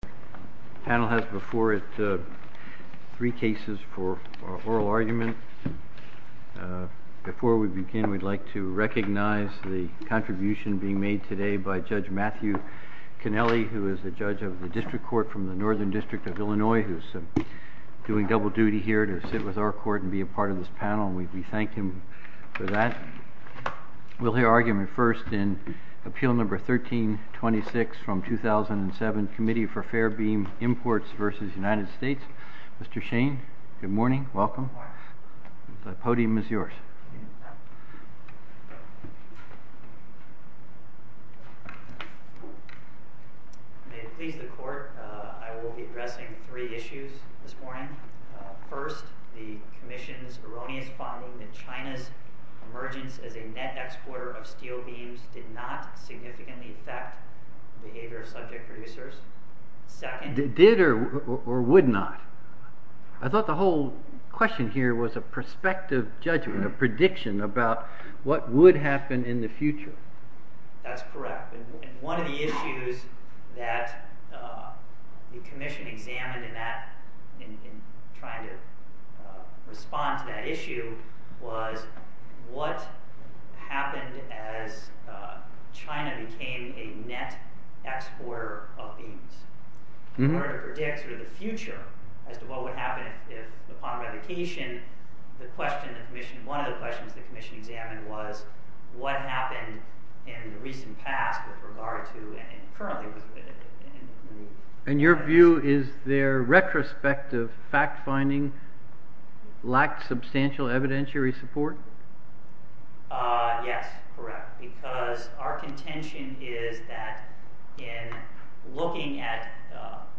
The panel has before it three cases for oral argument. Before we begin, we'd like to recognize the contribution being made today by Judge Matthew Canelli, who is the judge of the District Court from the Northern District of Illinois, who is doing double duty here to sit with our court and be a part of this panel. We thank him for that. We'll hear argument first in Appeal No. 1326 from 2007, Committee for Fair Beam Imports v. United States. Mr. Shane, good morning. Welcome. The podium is yours. May it please the Court, I will be addressing three issues this morning. First, the Commission's erroneous finding that China's emergence as a net exporter of steel beams did not significantly affect the behavior of subject producers. Did or would not? I thought the whole question here was a prospective judgment, a prediction about what would happen in the future. That's correct. One of the issues that the Commission examined in trying to respond to that issue was what happened as China became a net exporter of beams. In order to predict the future as to what would happen upon revocation, one of the questions the Commission examined was what happened in the recent past with regard to... And your view is their retrospective fact-finding lacked substantial evidentiary support? Yes, correct, because our contention is that in looking at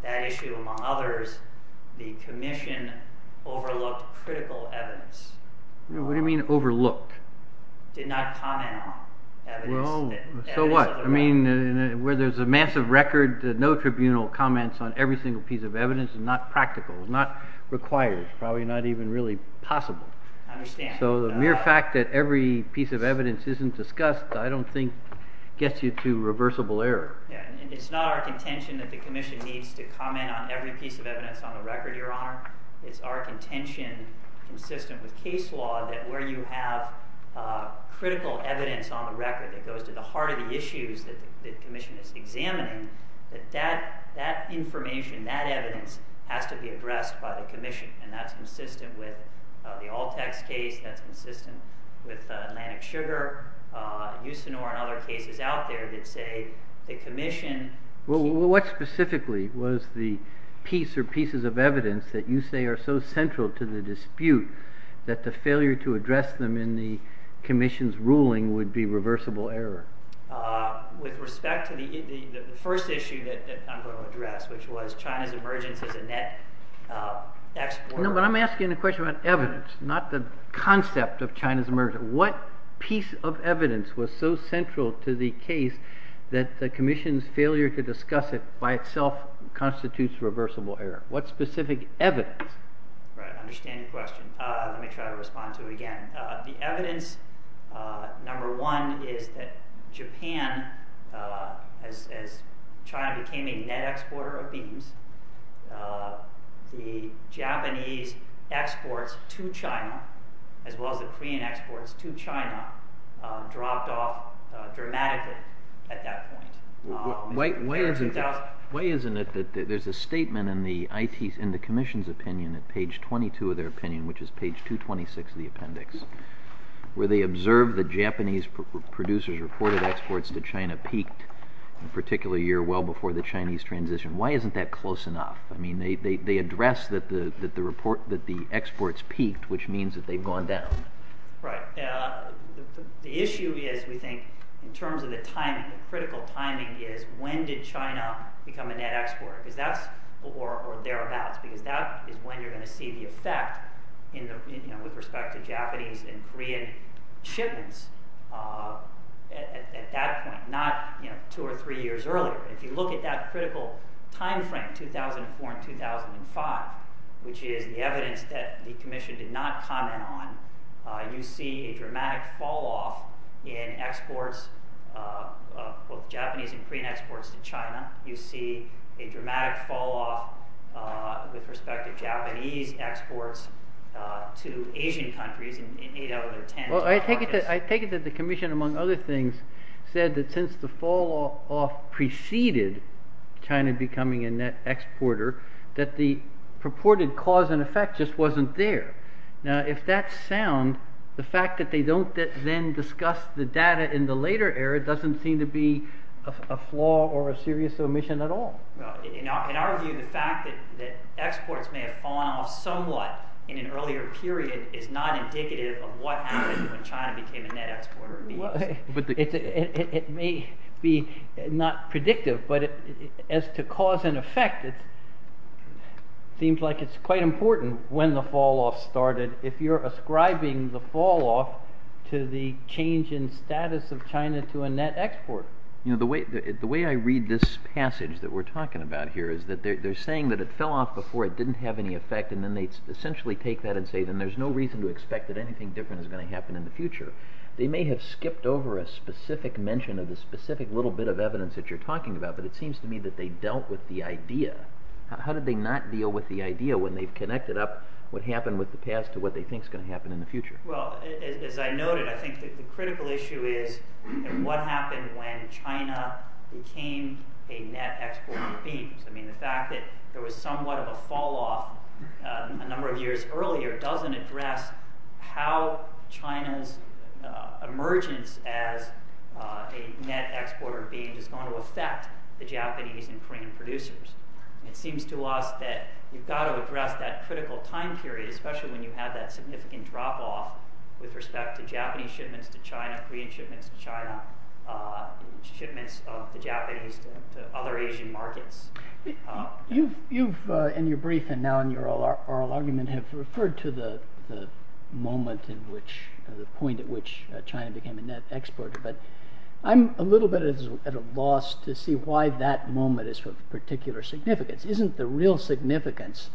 that issue, among others, the Commission overlooked critical evidence. What do you mean overlooked? Did not comment on evidence. So what? I mean, where there's a massive record, no tribunal comments on every single piece of evidence is not practical, not required, probably not even really possible. I understand. So the mere fact that every piece of evidence isn't discussed I don't think gets you to reversible error. It's not our contention that the Commission needs to comment on every piece of evidence on the record, Your Honor. It's our contention, consistent with case law, that where you have critical evidence on the record that goes to the heart of the issues that the Commission is examining, that that information, that evidence has to be addressed by the Commission. And that's consistent with the Altex case, that's consistent with Atlantic Sugar, Usinor, and other cases out there that say the Commission… Well, what specifically was the piece or pieces of evidence that you say are so central to the dispute that the failure to address them in the Commission's ruling would be reversible error? With respect to the first issue that I'm going to address, which was China's emergence as a net export… No, but I'm asking a question about evidence, not the concept of China's emergence. What piece of evidence was so central to the case that the Commission's failure to discuss it by itself constitutes reversible error? What specific evidence? Right, I understand your question. Let me try to respond to it again. The evidence, number one, is that Japan, as China became a net exporter of beans, the Japanese exports to China, as well as the Korean exports to China, dropped off dramatically at that point. Why isn't it that there's a statement in the Commission's opinion, at page 22 of their opinion, which is page 226 of the appendix, where they observed that Japanese producers reported exports to China peaked, in particular a year well before the Chinese transition. Why isn't that close enough? I mean, they address that the exports peaked, which means that they've gone down. Right. The issue is, we think, in terms of the timing, the critical timing is when did China become a net exporter, or thereabouts, because that is when you're going to see the effect with respect to Japanese and Korean shipments at that point. Not two or three years earlier. If you look at that critical time frame, 2004 and 2005, which is the evidence that the Commission did not comment on, you see a dramatic fall-off in exports of both Japanese and Korean exports to China. You see a dramatic fall-off with respect to Japanese exports to Asian countries in 8 out of 10. Well, I take it that the Commission, among other things, said that since the fall-off preceded China becoming a net exporter, that the purported cause and effect just wasn't there. Now, if that's sound, the fact that they don't then discuss the data in the later era doesn't seem to be a flaw or a serious omission at all. In our view, the fact that exports may have fallen off somewhat in an earlier period is not indicative of what happened when China became a net exporter. It may be not predictive, but as to cause and effect, it seems like it's quite important when the fall-off started, if you're ascribing the fall-off to the change in status of China to a net export. The way I read this passage that we're talking about here is that they're saying that it fell off before it didn't have any effect, and then they essentially take that and say then there's no reason to expect that anything different is going to happen in the future. They may have skipped over a specific mention of the specific little bit of evidence that you're talking about, but it seems to me that they dealt with the idea. How did they not deal with the idea when they've connected up what happened with the past to what they think is going to happen in the future? As I noted, I think the critical issue is what happened when China became a net exporter of beans. The fact that there was somewhat of a fall-off a number of years earlier doesn't address how China's emergence as a net exporter of beans is going to affect the Japanese and Korean producers. It seems to us that you've got to address that critical time period, especially when you have that significant drop-off with respect to Japanese shipments to China, Korean shipments to China, shipments of the Japanese to other Asian markets. You've, in your brief and now in your oral argument, have referred to the point at which China became a net exporter, but I'm a little bit at a loss to see why that moment is of particular significance. Isn't the real significance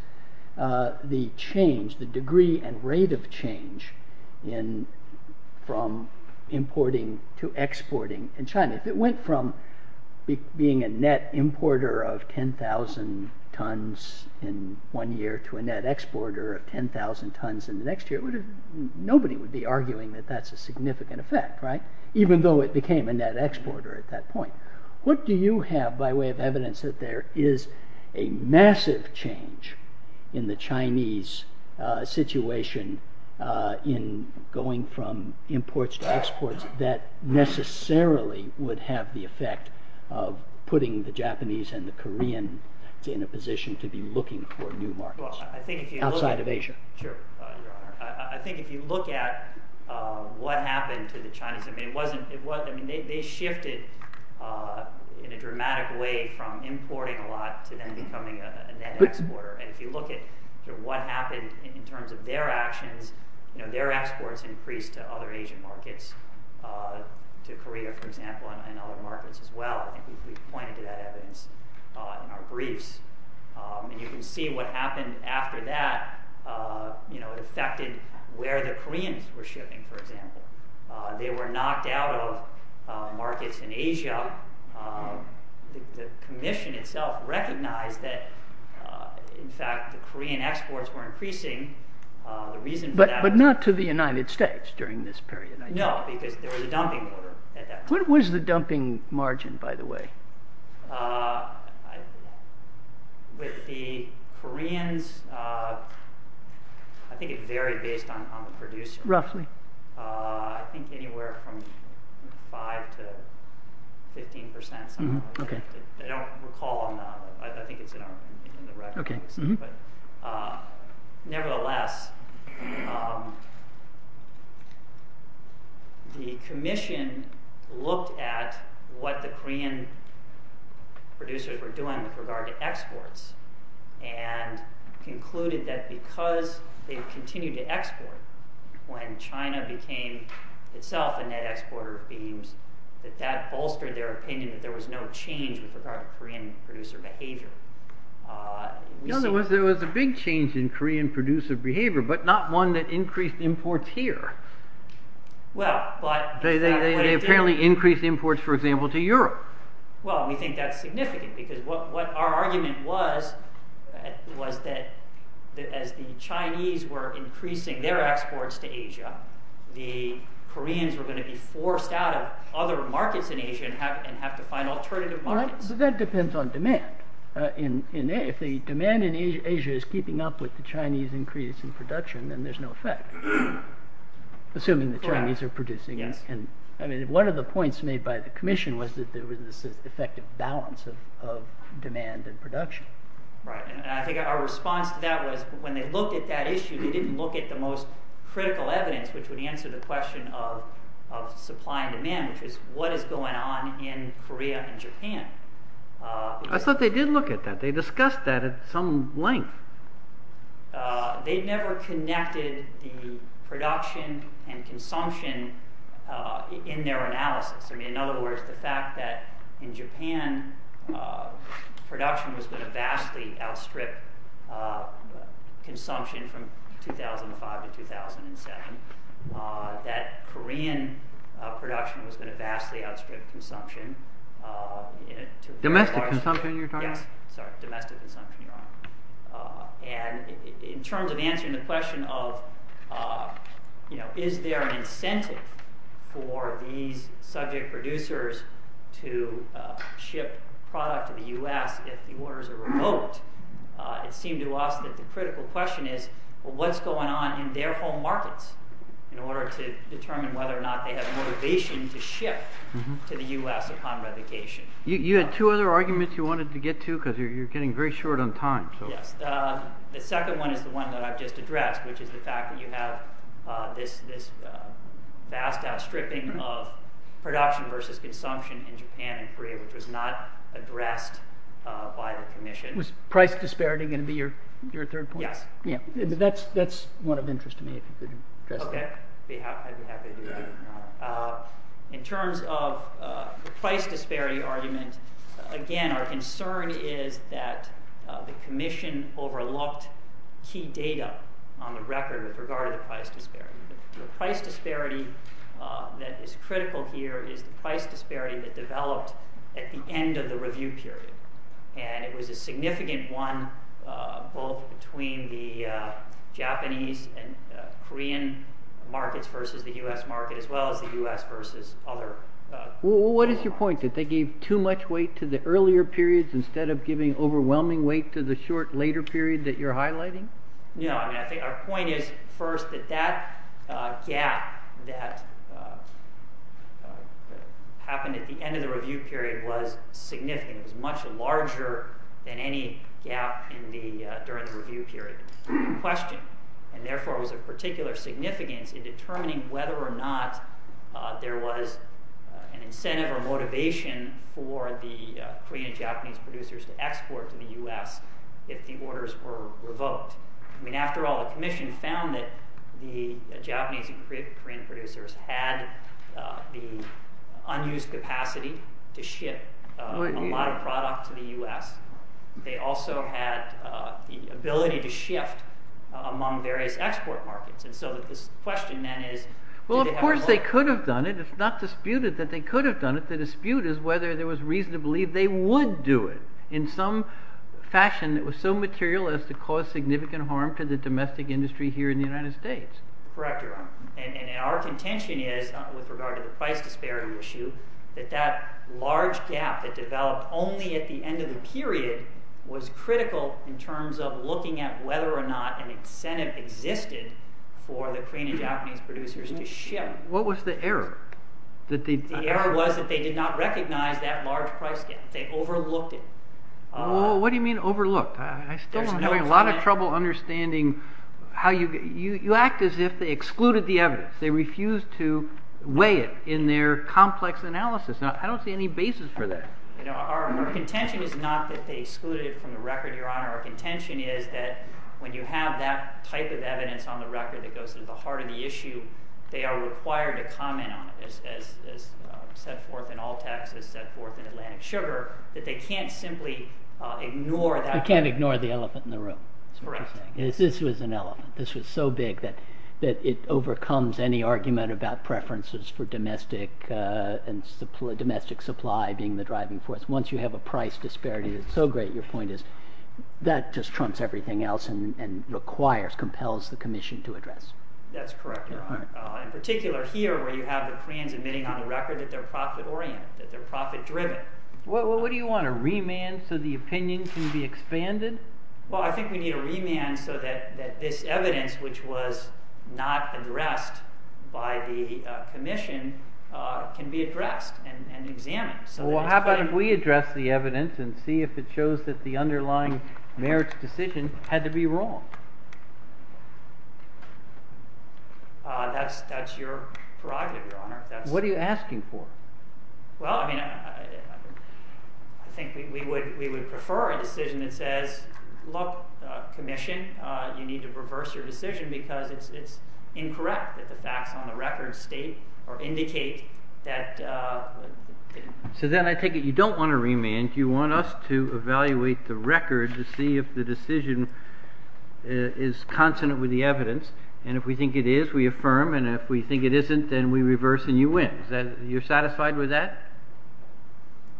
the change, the degree and rate of change from importing to exporting in China? If it went from being a net importer of 10,000 tons in one year to a net exporter of 10,000 tons in the next year, nobody would be arguing that that's a significant effect, right? Even though it became a net exporter at that point. What do you have by way of evidence that there is a massive change in the Chinese situation in going from imports to exports that necessarily would have the effect of putting the Japanese and the Korean in a position to be looking for new markets outside of Asia? Sure, Your Honor. I think if you look at what happened to the Chinese, they shifted in a dramatic way from importing a lot to then becoming a net exporter. If you look at what happened in terms of their actions, their exports increased to other Asian markets, to Korea, for example, and other markets as well. We pointed to that evidence in our briefs. You can see what happened after that affected where the Koreans were shipping, for example. They were knocked out of markets in Asia. The Commission itself recognized that, in fact, the Korean exports were increasing. But not to the United States during this period? What was the dumping margin, by the way? With the Koreans, I think it varied based on the producer. Roughly. I think anywhere from 5 to 15 percent. I don't recall on that, but I think it's in the records. Nevertheless, the Commission looked at what the Korean producers were doing with regard to exports and concluded that because they continued to export, when China became itself a net exporter of beans, that that bolstered their opinion that there was no change with regard to Korean producer behavior. In other words, there was a big change in Korean producer behavior, but not one that increased imports here. They apparently increased imports, for example, to Europe. Well, we think that's significant because what our argument was, was that as the Chinese were increasing their exports to Asia, the Koreans were going to be forced out of other markets in Asia and have to find alternative markets. That depends on demand. If the demand in Asia is keeping up with the Chinese increase in production, then there's no effect. Assuming the Chinese are producing. One of the points made by the Commission was that there was this effective balance of demand and production. I think our response to that was when they looked at that issue, they didn't look at the most critical evidence, which would answer the question of supply and demand, which is what is going on in Korea and Japan. I thought they did look at that. They discussed that at some length. They never connected the production and consumption in their analysis. In other words, the fact that in Japan, production was going to vastly outstrip consumption from 2005 to 2007, that Korean production was going to vastly outstrip consumption. Domestic consumption you're talking about? Yes. Sorry. Domestic consumption, Your Honor. In terms of answering the question of is there an incentive for these subject producers to ship product to the U.S. if the orders are remote, it seemed to us that the critical question is what's going on in their home markets in order to determine whether or not they have motivation to ship to the U.S. upon revocation. You had two other arguments you wanted to get to because you're getting very short on time. The second one is the one that I've just addressed, which is the fact that you have this vast outstripping of production versus consumption in Japan and Korea, which was not addressed by the Commission. Was price disparity going to be your third point? Yes. That's one of interest to me if you could address that. Okay. I'd be happy to do that. In terms of the price disparity argument, again, our concern is that the Commission overlooked key data on the record with regard to the price disparity. The price disparity that is critical here is the price disparity that developed at the end of the review period. It was a significant one, both between the Japanese and Korean markets versus the U.S. market, as well as the U.S. versus other markets. What is your point? Did they give too much weight to the earlier periods instead of giving overwhelming weight to the short later period that you're highlighting? No. Our point is first that that gap that happened at the end of the review period was significant. It was much larger than any gap during the review period. The question, and therefore was of particular significance, in determining whether or not there was an incentive or motivation for the Korean and Japanese producers to export to the U.S. if the orders were revoked. After all, the Commission found that the Japanese and Korean producers had the unused capacity to ship a lot of product to the U.S. They also had the ability to shift among various export markets. And so the question then is, did they have a choice? Well, of course they could have done it. It's not disputed that they could have done it. The dispute is whether there was reason to believe they would do it in some fashion that was so material as to cause significant harm to the domestic industry here in the United States. Correct, Your Honor. And our contention is, with regard to the price disparity issue, that that large gap that developed only at the end of the period was critical in terms of looking at whether or not an incentive existed for the Korean and Japanese producers to ship. What was the error? The error was that they did not recognize that large price gap. They overlooked it. What do you mean overlooked? I still am having a lot of trouble understanding how you get – They excluded the evidence. They refused to weigh it in their complex analysis. I don't see any basis for that. Our contention is not that they excluded it from the record, Your Honor. Our contention is that when you have that type of evidence on the record that goes to the heart of the issue, they are required to comment on it, as set forth in all texts, as set forth in Atlantic Sugar, that they can't simply ignore that. They can't ignore the elephant in the room. Correct. This was an elephant. This was so big that it overcomes any argument about preferences for domestic supply being the driving force. Once you have a price disparity that's so great, your point is that just trumps everything else and requires, compels the commission to address. That's correct, Your Honor. In particular here where you have the Koreans admitting on the record that they're profit-oriented, that they're profit-driven. What do you want, a remand so the opinion can be expanded? Well, I think we need a remand so that this evidence, which was not addressed by the commission, can be addressed and examined. Well, how about if we address the evidence and see if it shows that the underlying merits decision had to be wrong? That's your prerogative, Your Honor. What are you asking for? Well, I mean, I think we would prefer a decision that says, look, commission, you need to reverse your decision because it's incorrect that the facts on the record state or indicate that. So then I take it you don't want a remand. You want us to evaluate the record to see if the decision is consonant with the evidence. And if we think it is, we affirm. And if we think it isn't, then we reverse and you win. You're satisfied with that?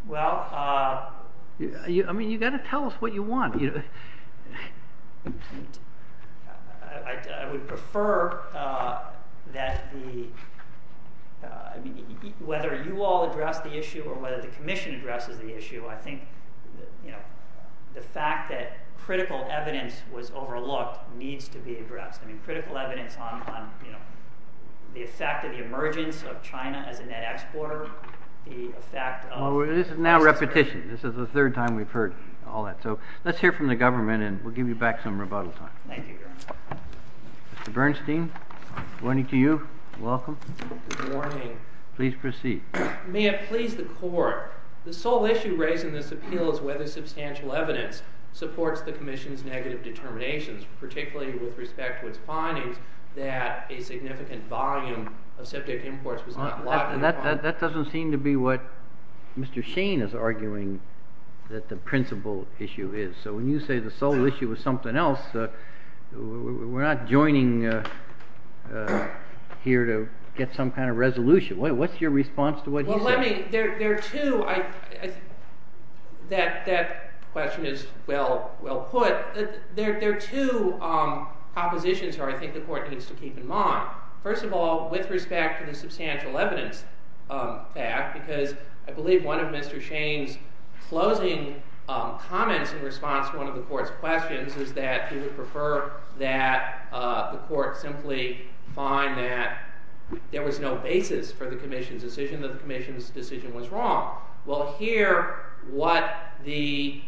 Well, I mean, you've got to tell us what you want. I would prefer that whether you all address the issue or whether the commission addresses the issue, I think the fact that critical evidence was overlooked needs to be addressed. I mean, critical evidence on the effect of the emergence of China as a net exporter, the effect of mass trade. Well, this is now repetition. This is the third time we've heard all that. So let's hear from the government and we'll give you back some rebuttal time. Thank you, Your Honor. Mr. Bernstein, good morning to you. Welcome. Good morning. Please proceed. May it please the court, the sole issue raised in this appeal is whether substantial evidence supports the commission's negative determinations, particularly with respect to its findings that a significant volume of septic imports was not allotted. That doesn't seem to be what Mr. Shane is arguing that the principal issue is. So when you say the sole issue is something else, we're not joining here to get some kind of resolution. What's your response to what he said? Well, I mean, there are two. That question is well put. There are two propositions here I think the court needs to keep in mind. First of all, with respect to the substantial evidence fact, because I believe one of Mr. Shane's closing comments in response to one of the court's questions is that he would prefer that the court simply find that there was no basis for the commission's decision, that the commission's decision was wrong. Well, here what the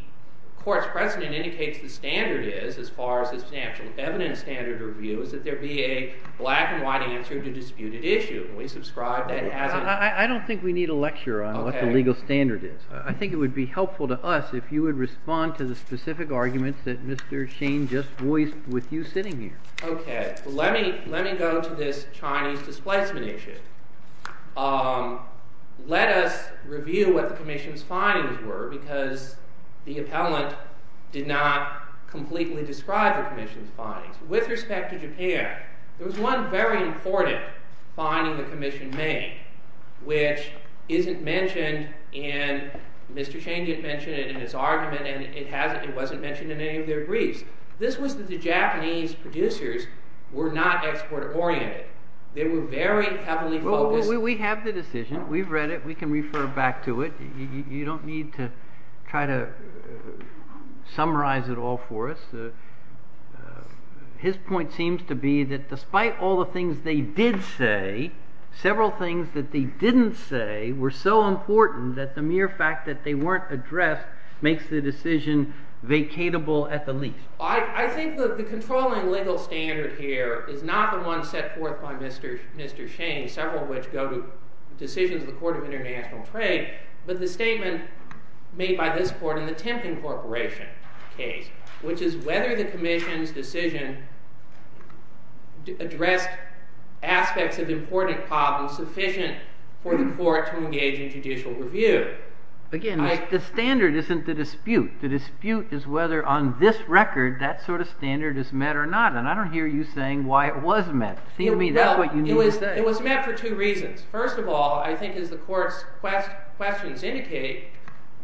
court's precedent indicates the standard is, as far as the substantial evidence standard review, is that there be a black and white answer to disputed issue. And we subscribe that as an answer. I don't think we need a lecture on what the legal standard is. I think it would be helpful to us if you would respond to the specific arguments that Mr. Shane just voiced with you sitting here. Okay, let me go to this Chinese displacement issue. Let us review what the commission's findings were because the appellant did not completely describe the commission's findings. With respect to Japan, there was one very important finding the commission made, which isn't mentioned in, Mr. Shane didn't mention it in his argument and it wasn't mentioned in any of their briefs. This was that the Japanese producers were not export-oriented. They were very heavily focused. Well, we have the decision. We've read it. We can refer back to it. You don't need to try to summarize it all for us. His point seems to be that despite all the things they did say, several things that they didn't say were so important that the mere fact that they weren't addressed makes the decision vacatable at the least. I think that the controlling legal standard here is not the one set forth by Mr. Shane, several of which go to decisions of the Court of International Trade, but the statement made by this court in the Timken Corporation case, which is whether the commission's decision addressed aspects of important problems sufficient for the court to engage in judicial review. Again, the standard isn't the dispute. The dispute is whether on this record that sort of standard is met or not. And I don't hear you saying why it was met. It was met for two reasons. First of all, I think, as the Court's questions indicate,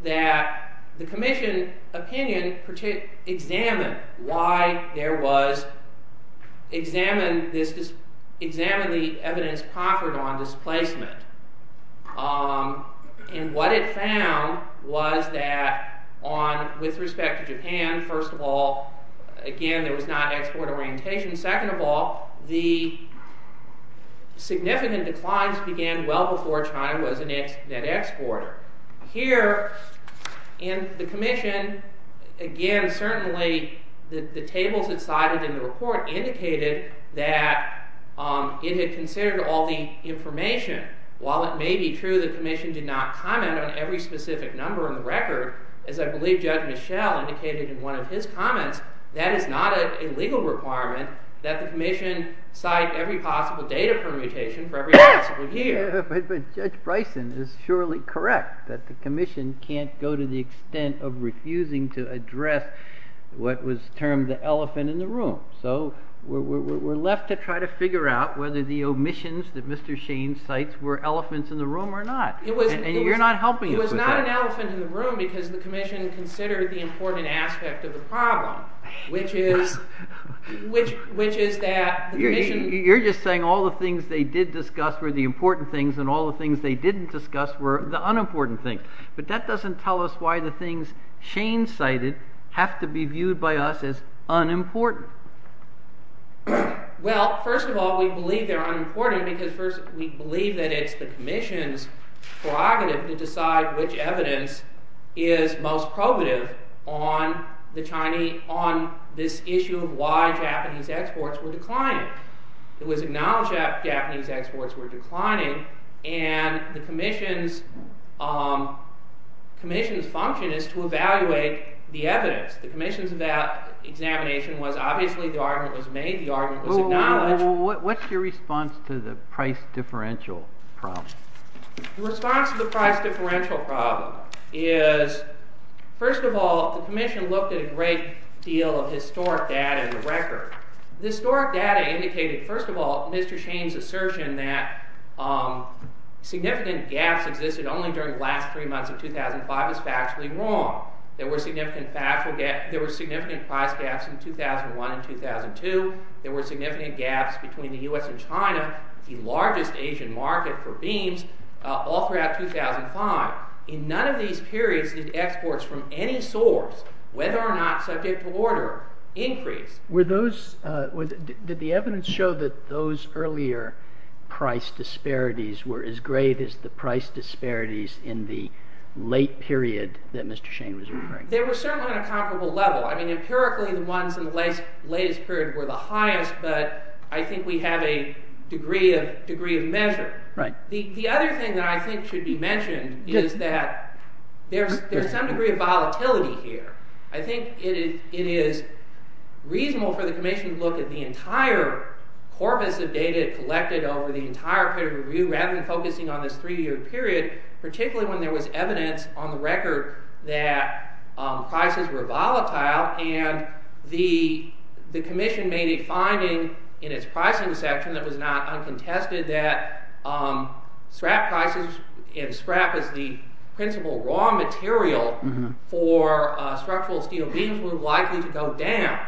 that the commission opinion examined why there was... examined the evidence conferred on displacement. And what it found was that on... with respect to Japan, first of all, again, there was not export orientation. Second of all, the significant declines began well before China was a net exporter. Here in the commission, again, certainly, the tables it cited in the report indicated that it had considered all the information. While it may be true the commission did not comment on every specific number on the record, as I believe Judge Michel indicated in one of his comments, that is not a legal requirement that the commission cite every possible date of permutation for every possible year. But Judge Bryson is surely correct that the commission can't go to the extent of refusing to address what was termed the elephant in the room. So we're left to try to figure out whether the omissions that Mr. Shane cites were elephants in the room or not. And you're not helping us with that. It was not an elephant in the room because the commission considered the important aspect of the problem, which is that the commission... You're just saying all the things they did discuss were the important things and all the things they didn't discuss were the unimportant things. But that doesn't tell us why the things Shane cited have to be viewed by us as unimportant. Well, first of all, we believe they're unimportant because we believe that it's the commission's prerogative to decide which evidence is most probative on this issue of why Japanese exports were declining. It was acknowledged that Japanese exports were declining and the commission's function is to evaluate the evidence. The commission's examination was obviously the argument was made, the argument was acknowledged. What's your response to the price differential problem? The response to the price differential problem is, first of all, the commission looked at a great deal of historic data in the record. The historic data indicated, first of all, Mr. Shane's assertion that significant gaps existed only during the last three months of 2005 is factually wrong. There were significant price gaps in 2001 and 2002. There were significant gaps between the US and China, the largest Asian market for beams, all throughout 2005. In none of these periods did exports from any source, whether or not subject to order, increase. Did the evidence show that those earlier price disparities were as great as the price disparities in the late period that Mr. Shane was referring to? They were certainly on a comparable level. Empirically, the ones in the latest period were the highest, but I think we have a degree of measure. The other thing that I think should be mentioned is that there's some degree of volatility here. I think it is reasonable for the commission to look at the entire corpus of data collected over the entire period of review rather than focusing on this three-year period, particularly when there was evidence on the record that prices were volatile, and the commission made a finding in its pricing section that was not uncontested that scrap prices, if scrap is the principal raw material for structural steel beams, were likely to go down.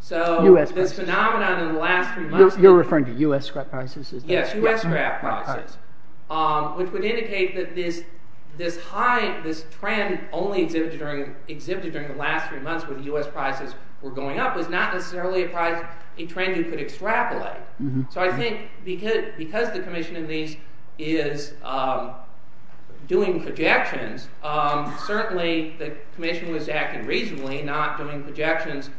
So this phenomenon in the last three months... You're referring to US scrap prices? Yes, US scrap prices, which would indicate that this trend only exhibited during the last three months when US prices were going up was not necessarily a trend you could extrapolate. So I think because the commission in these is doing projections, certainly the commission was acting reasonably, not doing projections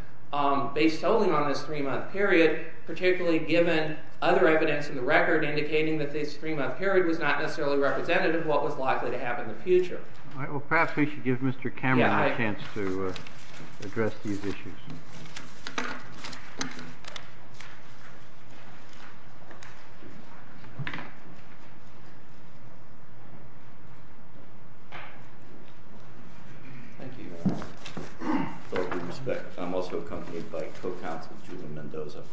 based solely on this three-month period, particularly given other evidence in the record indicating that this three-month period was not necessarily representative of what was likely to happen in the future. Perhaps we should give Mr. Cameron a chance to address these issues. Thank you. With all due respect, I'm also accompanied by co-counsel Julian Mendoza.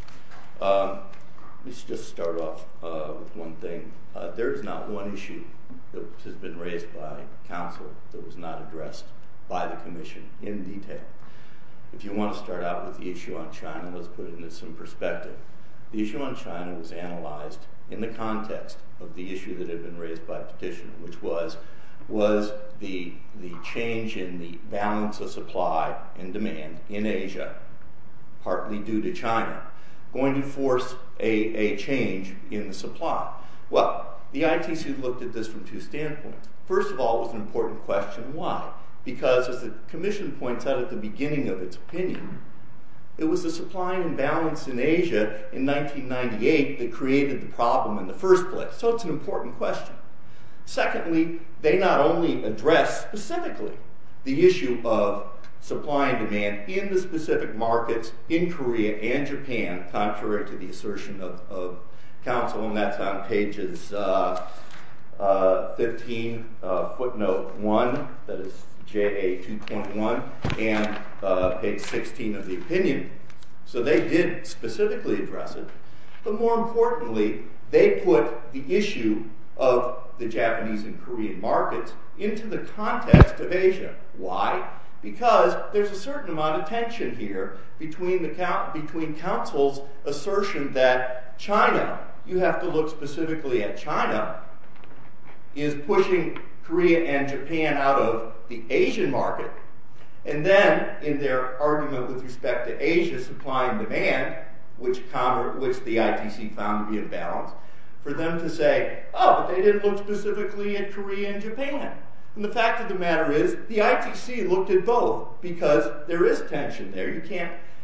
Let's just start off with one thing. There is not one issue that has been raised by counsel that was not addressed by the commission in detail. If you want to start out with the issue on China, let's put it into some perspective. The issue on China was analyzed in the context of the issue that had been raised by petition, which was the change in the balance of supply and demand in Asia, partly due to China, going to force a change in the supply. Well, the ITC looked at this from two standpoints. First of all, it was an important question. Why? Because, as the commission points out at the beginning of its opinion, it was the supply imbalance in Asia in 1998 that created the problem in the first place. So it's an important question. Secondly, they not only addressed specifically the issue of supply and demand in the specific markets in Korea and Japan, contrary to the assertion of counsel, and that's on pages 15, footnote 1, that is JA 2.1, and page 16 of the opinion. So they did specifically address it. But more importantly, they put the issue of the Japanese and Korean markets into the context of Asia. Why? Because there's a certain amount of tension here between counsel's assertion that China, you have to look specifically at China, is pushing Korea and Japan out of the Asian market, and then in their argument with respect to Asia, supply and demand, which the ITC found to be in balance, for them to say, oh, but they didn't look specifically at Korea and Japan. And the fact of the matter is, the ITC looked at both because there is tension there.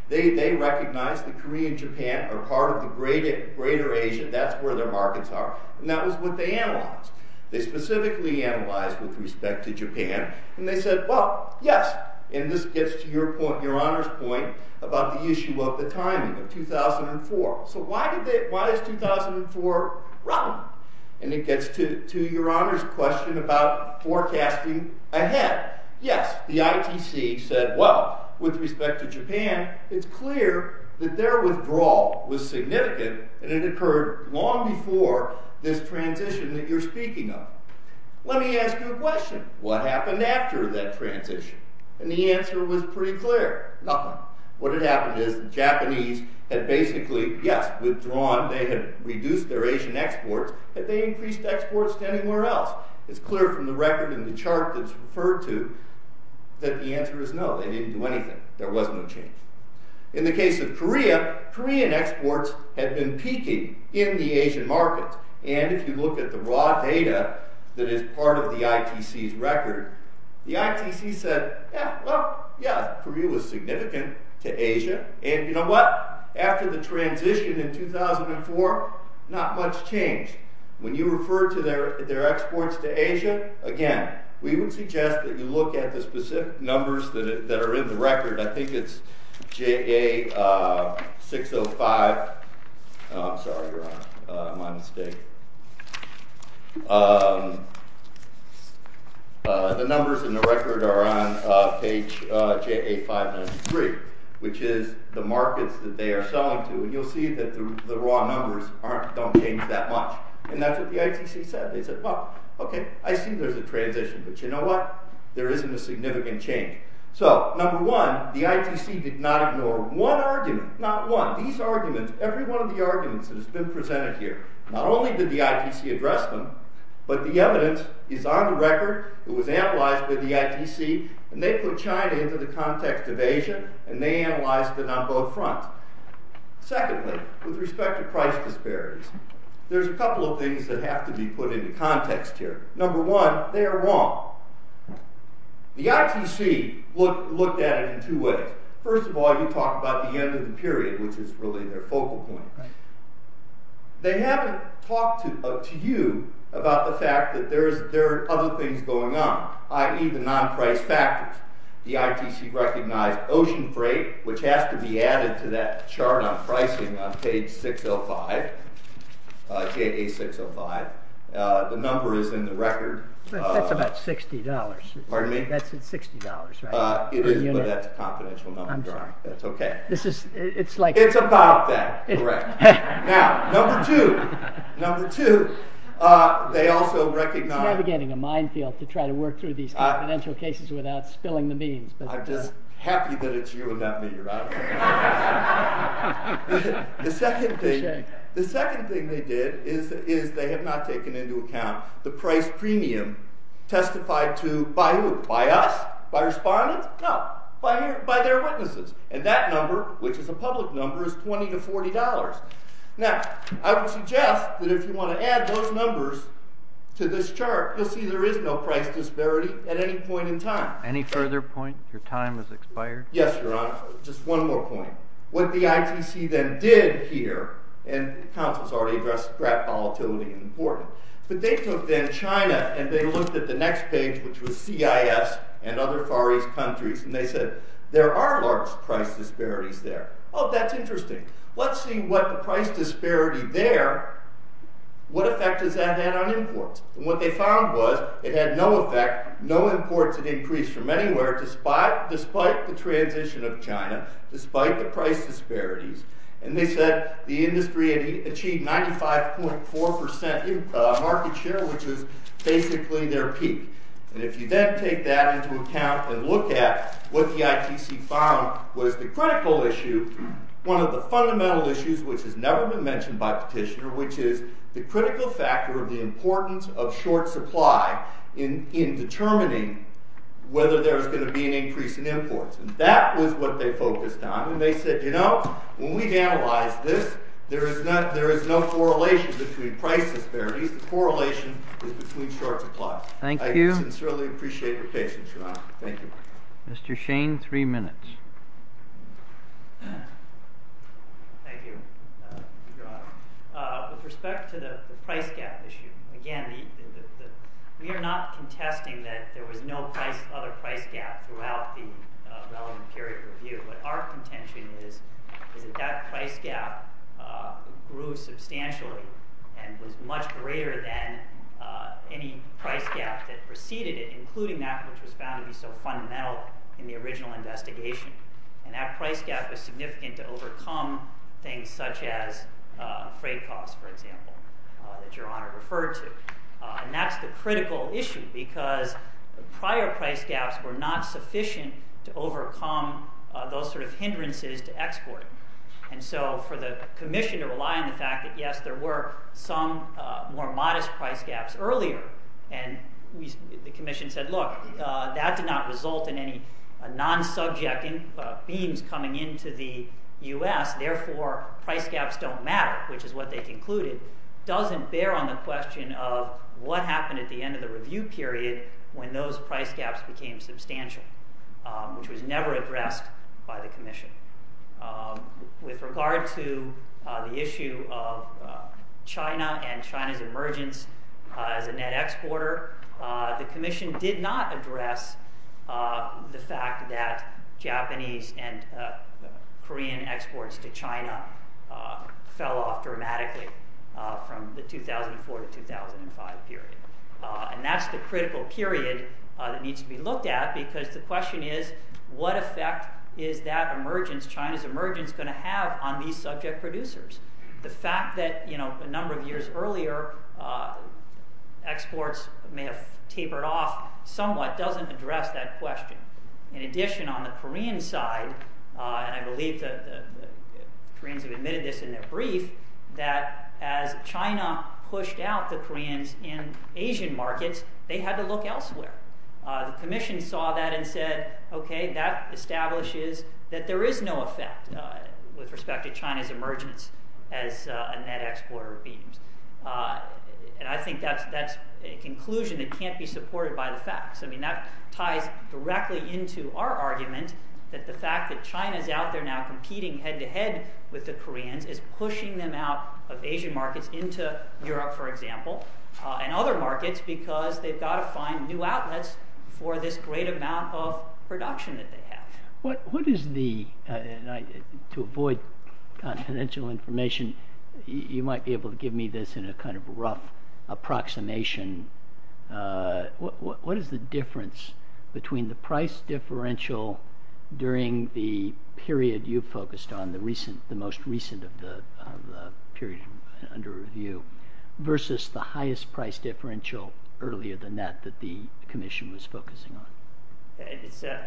They recognize that Korea and Japan are part of the greater Asia. That's where their markets are. And that was what they analyzed. They specifically analyzed with respect to Japan, and they said, well, yes. And this gets to your point, your honor's point, about the issue of the timing of 2004. So why is 2004 wrong? And it gets to your honor's question about forecasting ahead. Yes, the ITC said, well, with respect to Japan, it's clear that their withdrawal was significant, and it occurred long before this transition that you're speaking of. Let me ask you a question. What happened after that transition? And the answer was pretty clear. Nothing. What had happened is the Japanese had basically, yes, withdrawn, they had reduced their Asian exports, but they increased exports to anywhere else. It's clear from the record in the chart that's referred to that the answer is no, they didn't do anything. There was no change. In the case of Korea, Korean exports had been peaking in the Asian markets. And if you look at the raw data that is part of the ITC's record, the ITC said, yeah, well, yeah, Korea was significant to Asia. And you know what? After the transition in 2004, not much changed. When you refer to their exports to Asia, again, we would suggest that you look at the specific numbers that are in the record. I think it's JA605. Oh, I'm sorry, your honor, my mistake. The numbers in the record are on page JA593, which is the markets that they are selling to. And you'll see that the raw numbers don't change that much. And that's what the ITC said. They said, well, okay, I see there's a transition, but you know what? There isn't a significant change. So number one, the ITC did not ignore one argument, not one, these arguments, every one of the arguments that has been presented here, not only did the ITC address them, but the evidence is on the record, it was analyzed by the ITC, and they put China into the context of Asia, and they analyzed it on both fronts. Secondly, with respect to price disparities, there's a couple of things that have to be put into context here. Number one, they are wrong. The ITC looked at it in two ways. First of all, you talk about the end of the period, which is really their focal point. They haven't talked to you about the fact that there are other things going on, i.e., the non-price factors. The ITC recognized ocean freight, which has to be added to that chart on pricing on page 605, page 605. The number is in the record. That's about $60. Pardon me? That's $60, right? It is, but that's a confidential number. I'm sorry. That's okay. It's like... Yeah, correct. Now, number two. Number two, they also recognize... It's navigating a minefield to try to work through these confidential cases without spilling the beans. I'm just happy that it's you and not me. You're out of here. The second thing they did is they have not taken into account the price premium testified to by who? By us? By respondents? No, by their witnesses. And that number, which is a public number, is $20 to $40. Now, I would suggest that if you want to add those numbers to this chart, you'll see there is no price disparity at any point in time. Any further point? Your time has expired. Yes, Your Honor. Just one more point. What the ITC then did here, and the Council's already addressed draft volatility and imported, but they took then China and they looked at the next page, which was CIS and other Far East countries, and they said, there are large price disparities there. Oh, that's interesting. Let's see what the price disparity there, what effect does that have on imports? And what they found was it had no effect, no imports had increased from anywhere despite the transition of China, despite the price disparities. And they said the industry had achieved 95.4% market share, which is basically their peak. And if you then take that into account and look at what the ITC found was the critical issue, one of the fundamental issues which has never been mentioned by petitioner, which is the critical factor of the importance of short supply in determining whether there's going to be an increase in imports. And that was what they focused on. And they said, you know, when we analyze this, there is no correlation between price disparities, the correlation is between short supply. Thank you. I sincerely appreciate your patience, Your Honor. Thank you. Mr. Shane, three minutes. Thank you, Your Honor. With respect to the price gap issue, again, we are not contesting that there was no other price gap throughout the relevant period of review. What our contention is is that that price gap grew substantially and was much greater than any price gap that preceded it, including that which was found to be so fundamental in the original investigation. And that price gap was significant to overcome things such as freight costs, for example, that Your Honor referred to. And that's the critical issue because prior price gaps were not sufficient to overcome those sort of hindrances to export. And so for the commission to rely on the fact that, yes, there were some more modest price gaps earlier, and the commission said, look, that did not result in any non-subjecting beams coming into the U.S., therefore price gaps don't matter, which is what they concluded, doesn't bear on the question of what happened at the end of the review period when those price gaps became substantial, which was never addressed by the commission. With regard to the issue of China and China's emergence as a net exporter, the commission did not address the fact that Japanese and Korean exports to China fell off dramatically from the 2004 to 2005 period. And that's the critical period that needs to be looked at because the question is, what effect is that emergence, China's emergence, going to have on these subject producers? The fact that a number of years earlier exports may have tapered off somewhat doesn't address that question. In addition, on the Korean side, and I believe the Koreans have admitted this in their brief, that as China pushed out the Koreans in Asian markets, they had to look elsewhere. The commission saw that and said, okay, that establishes that there is no effect with respect to China's emergence as a net exporter of beams. And I think that's a conclusion that can't be supported by the facts. That ties directly into our argument that the fact that China's out there now competing head-to-head with the Koreans is pushing them out of Asian markets into Europe, for example, and other markets because they've got to find new outlets for this great amount of production that they have. What is the, to avoid confidential information, you might be able to give me this in a kind of rough approximation. What is the difference between the price differential during the period you focused on, the most recent of the period under review, versus the highest price differential earlier than that that the commission was focusing on?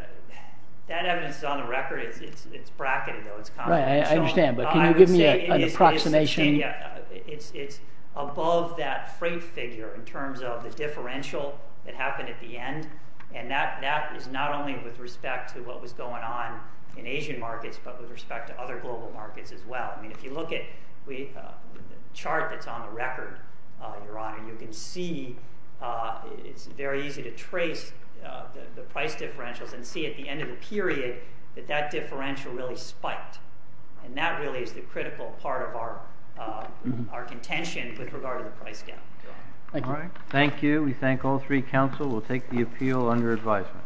That evidence is on the record. It's bracketed, though. Right, I understand. But can you give me an approximation? It's above that freight figure in terms of the differential that happened at the end. And that is not only with respect to what was going on in Asian markets but with respect to other global markets as well. I mean, if you look at the chart that's on the record, Your Honor, you can see, it's very easy to trace the price differentials and see at the end of the period that that differential really spiked. And that really is the critical part of our contention with regard to the price gap. Thank you. Thank you. We thank all three counsel. We'll take the appeal under advisement.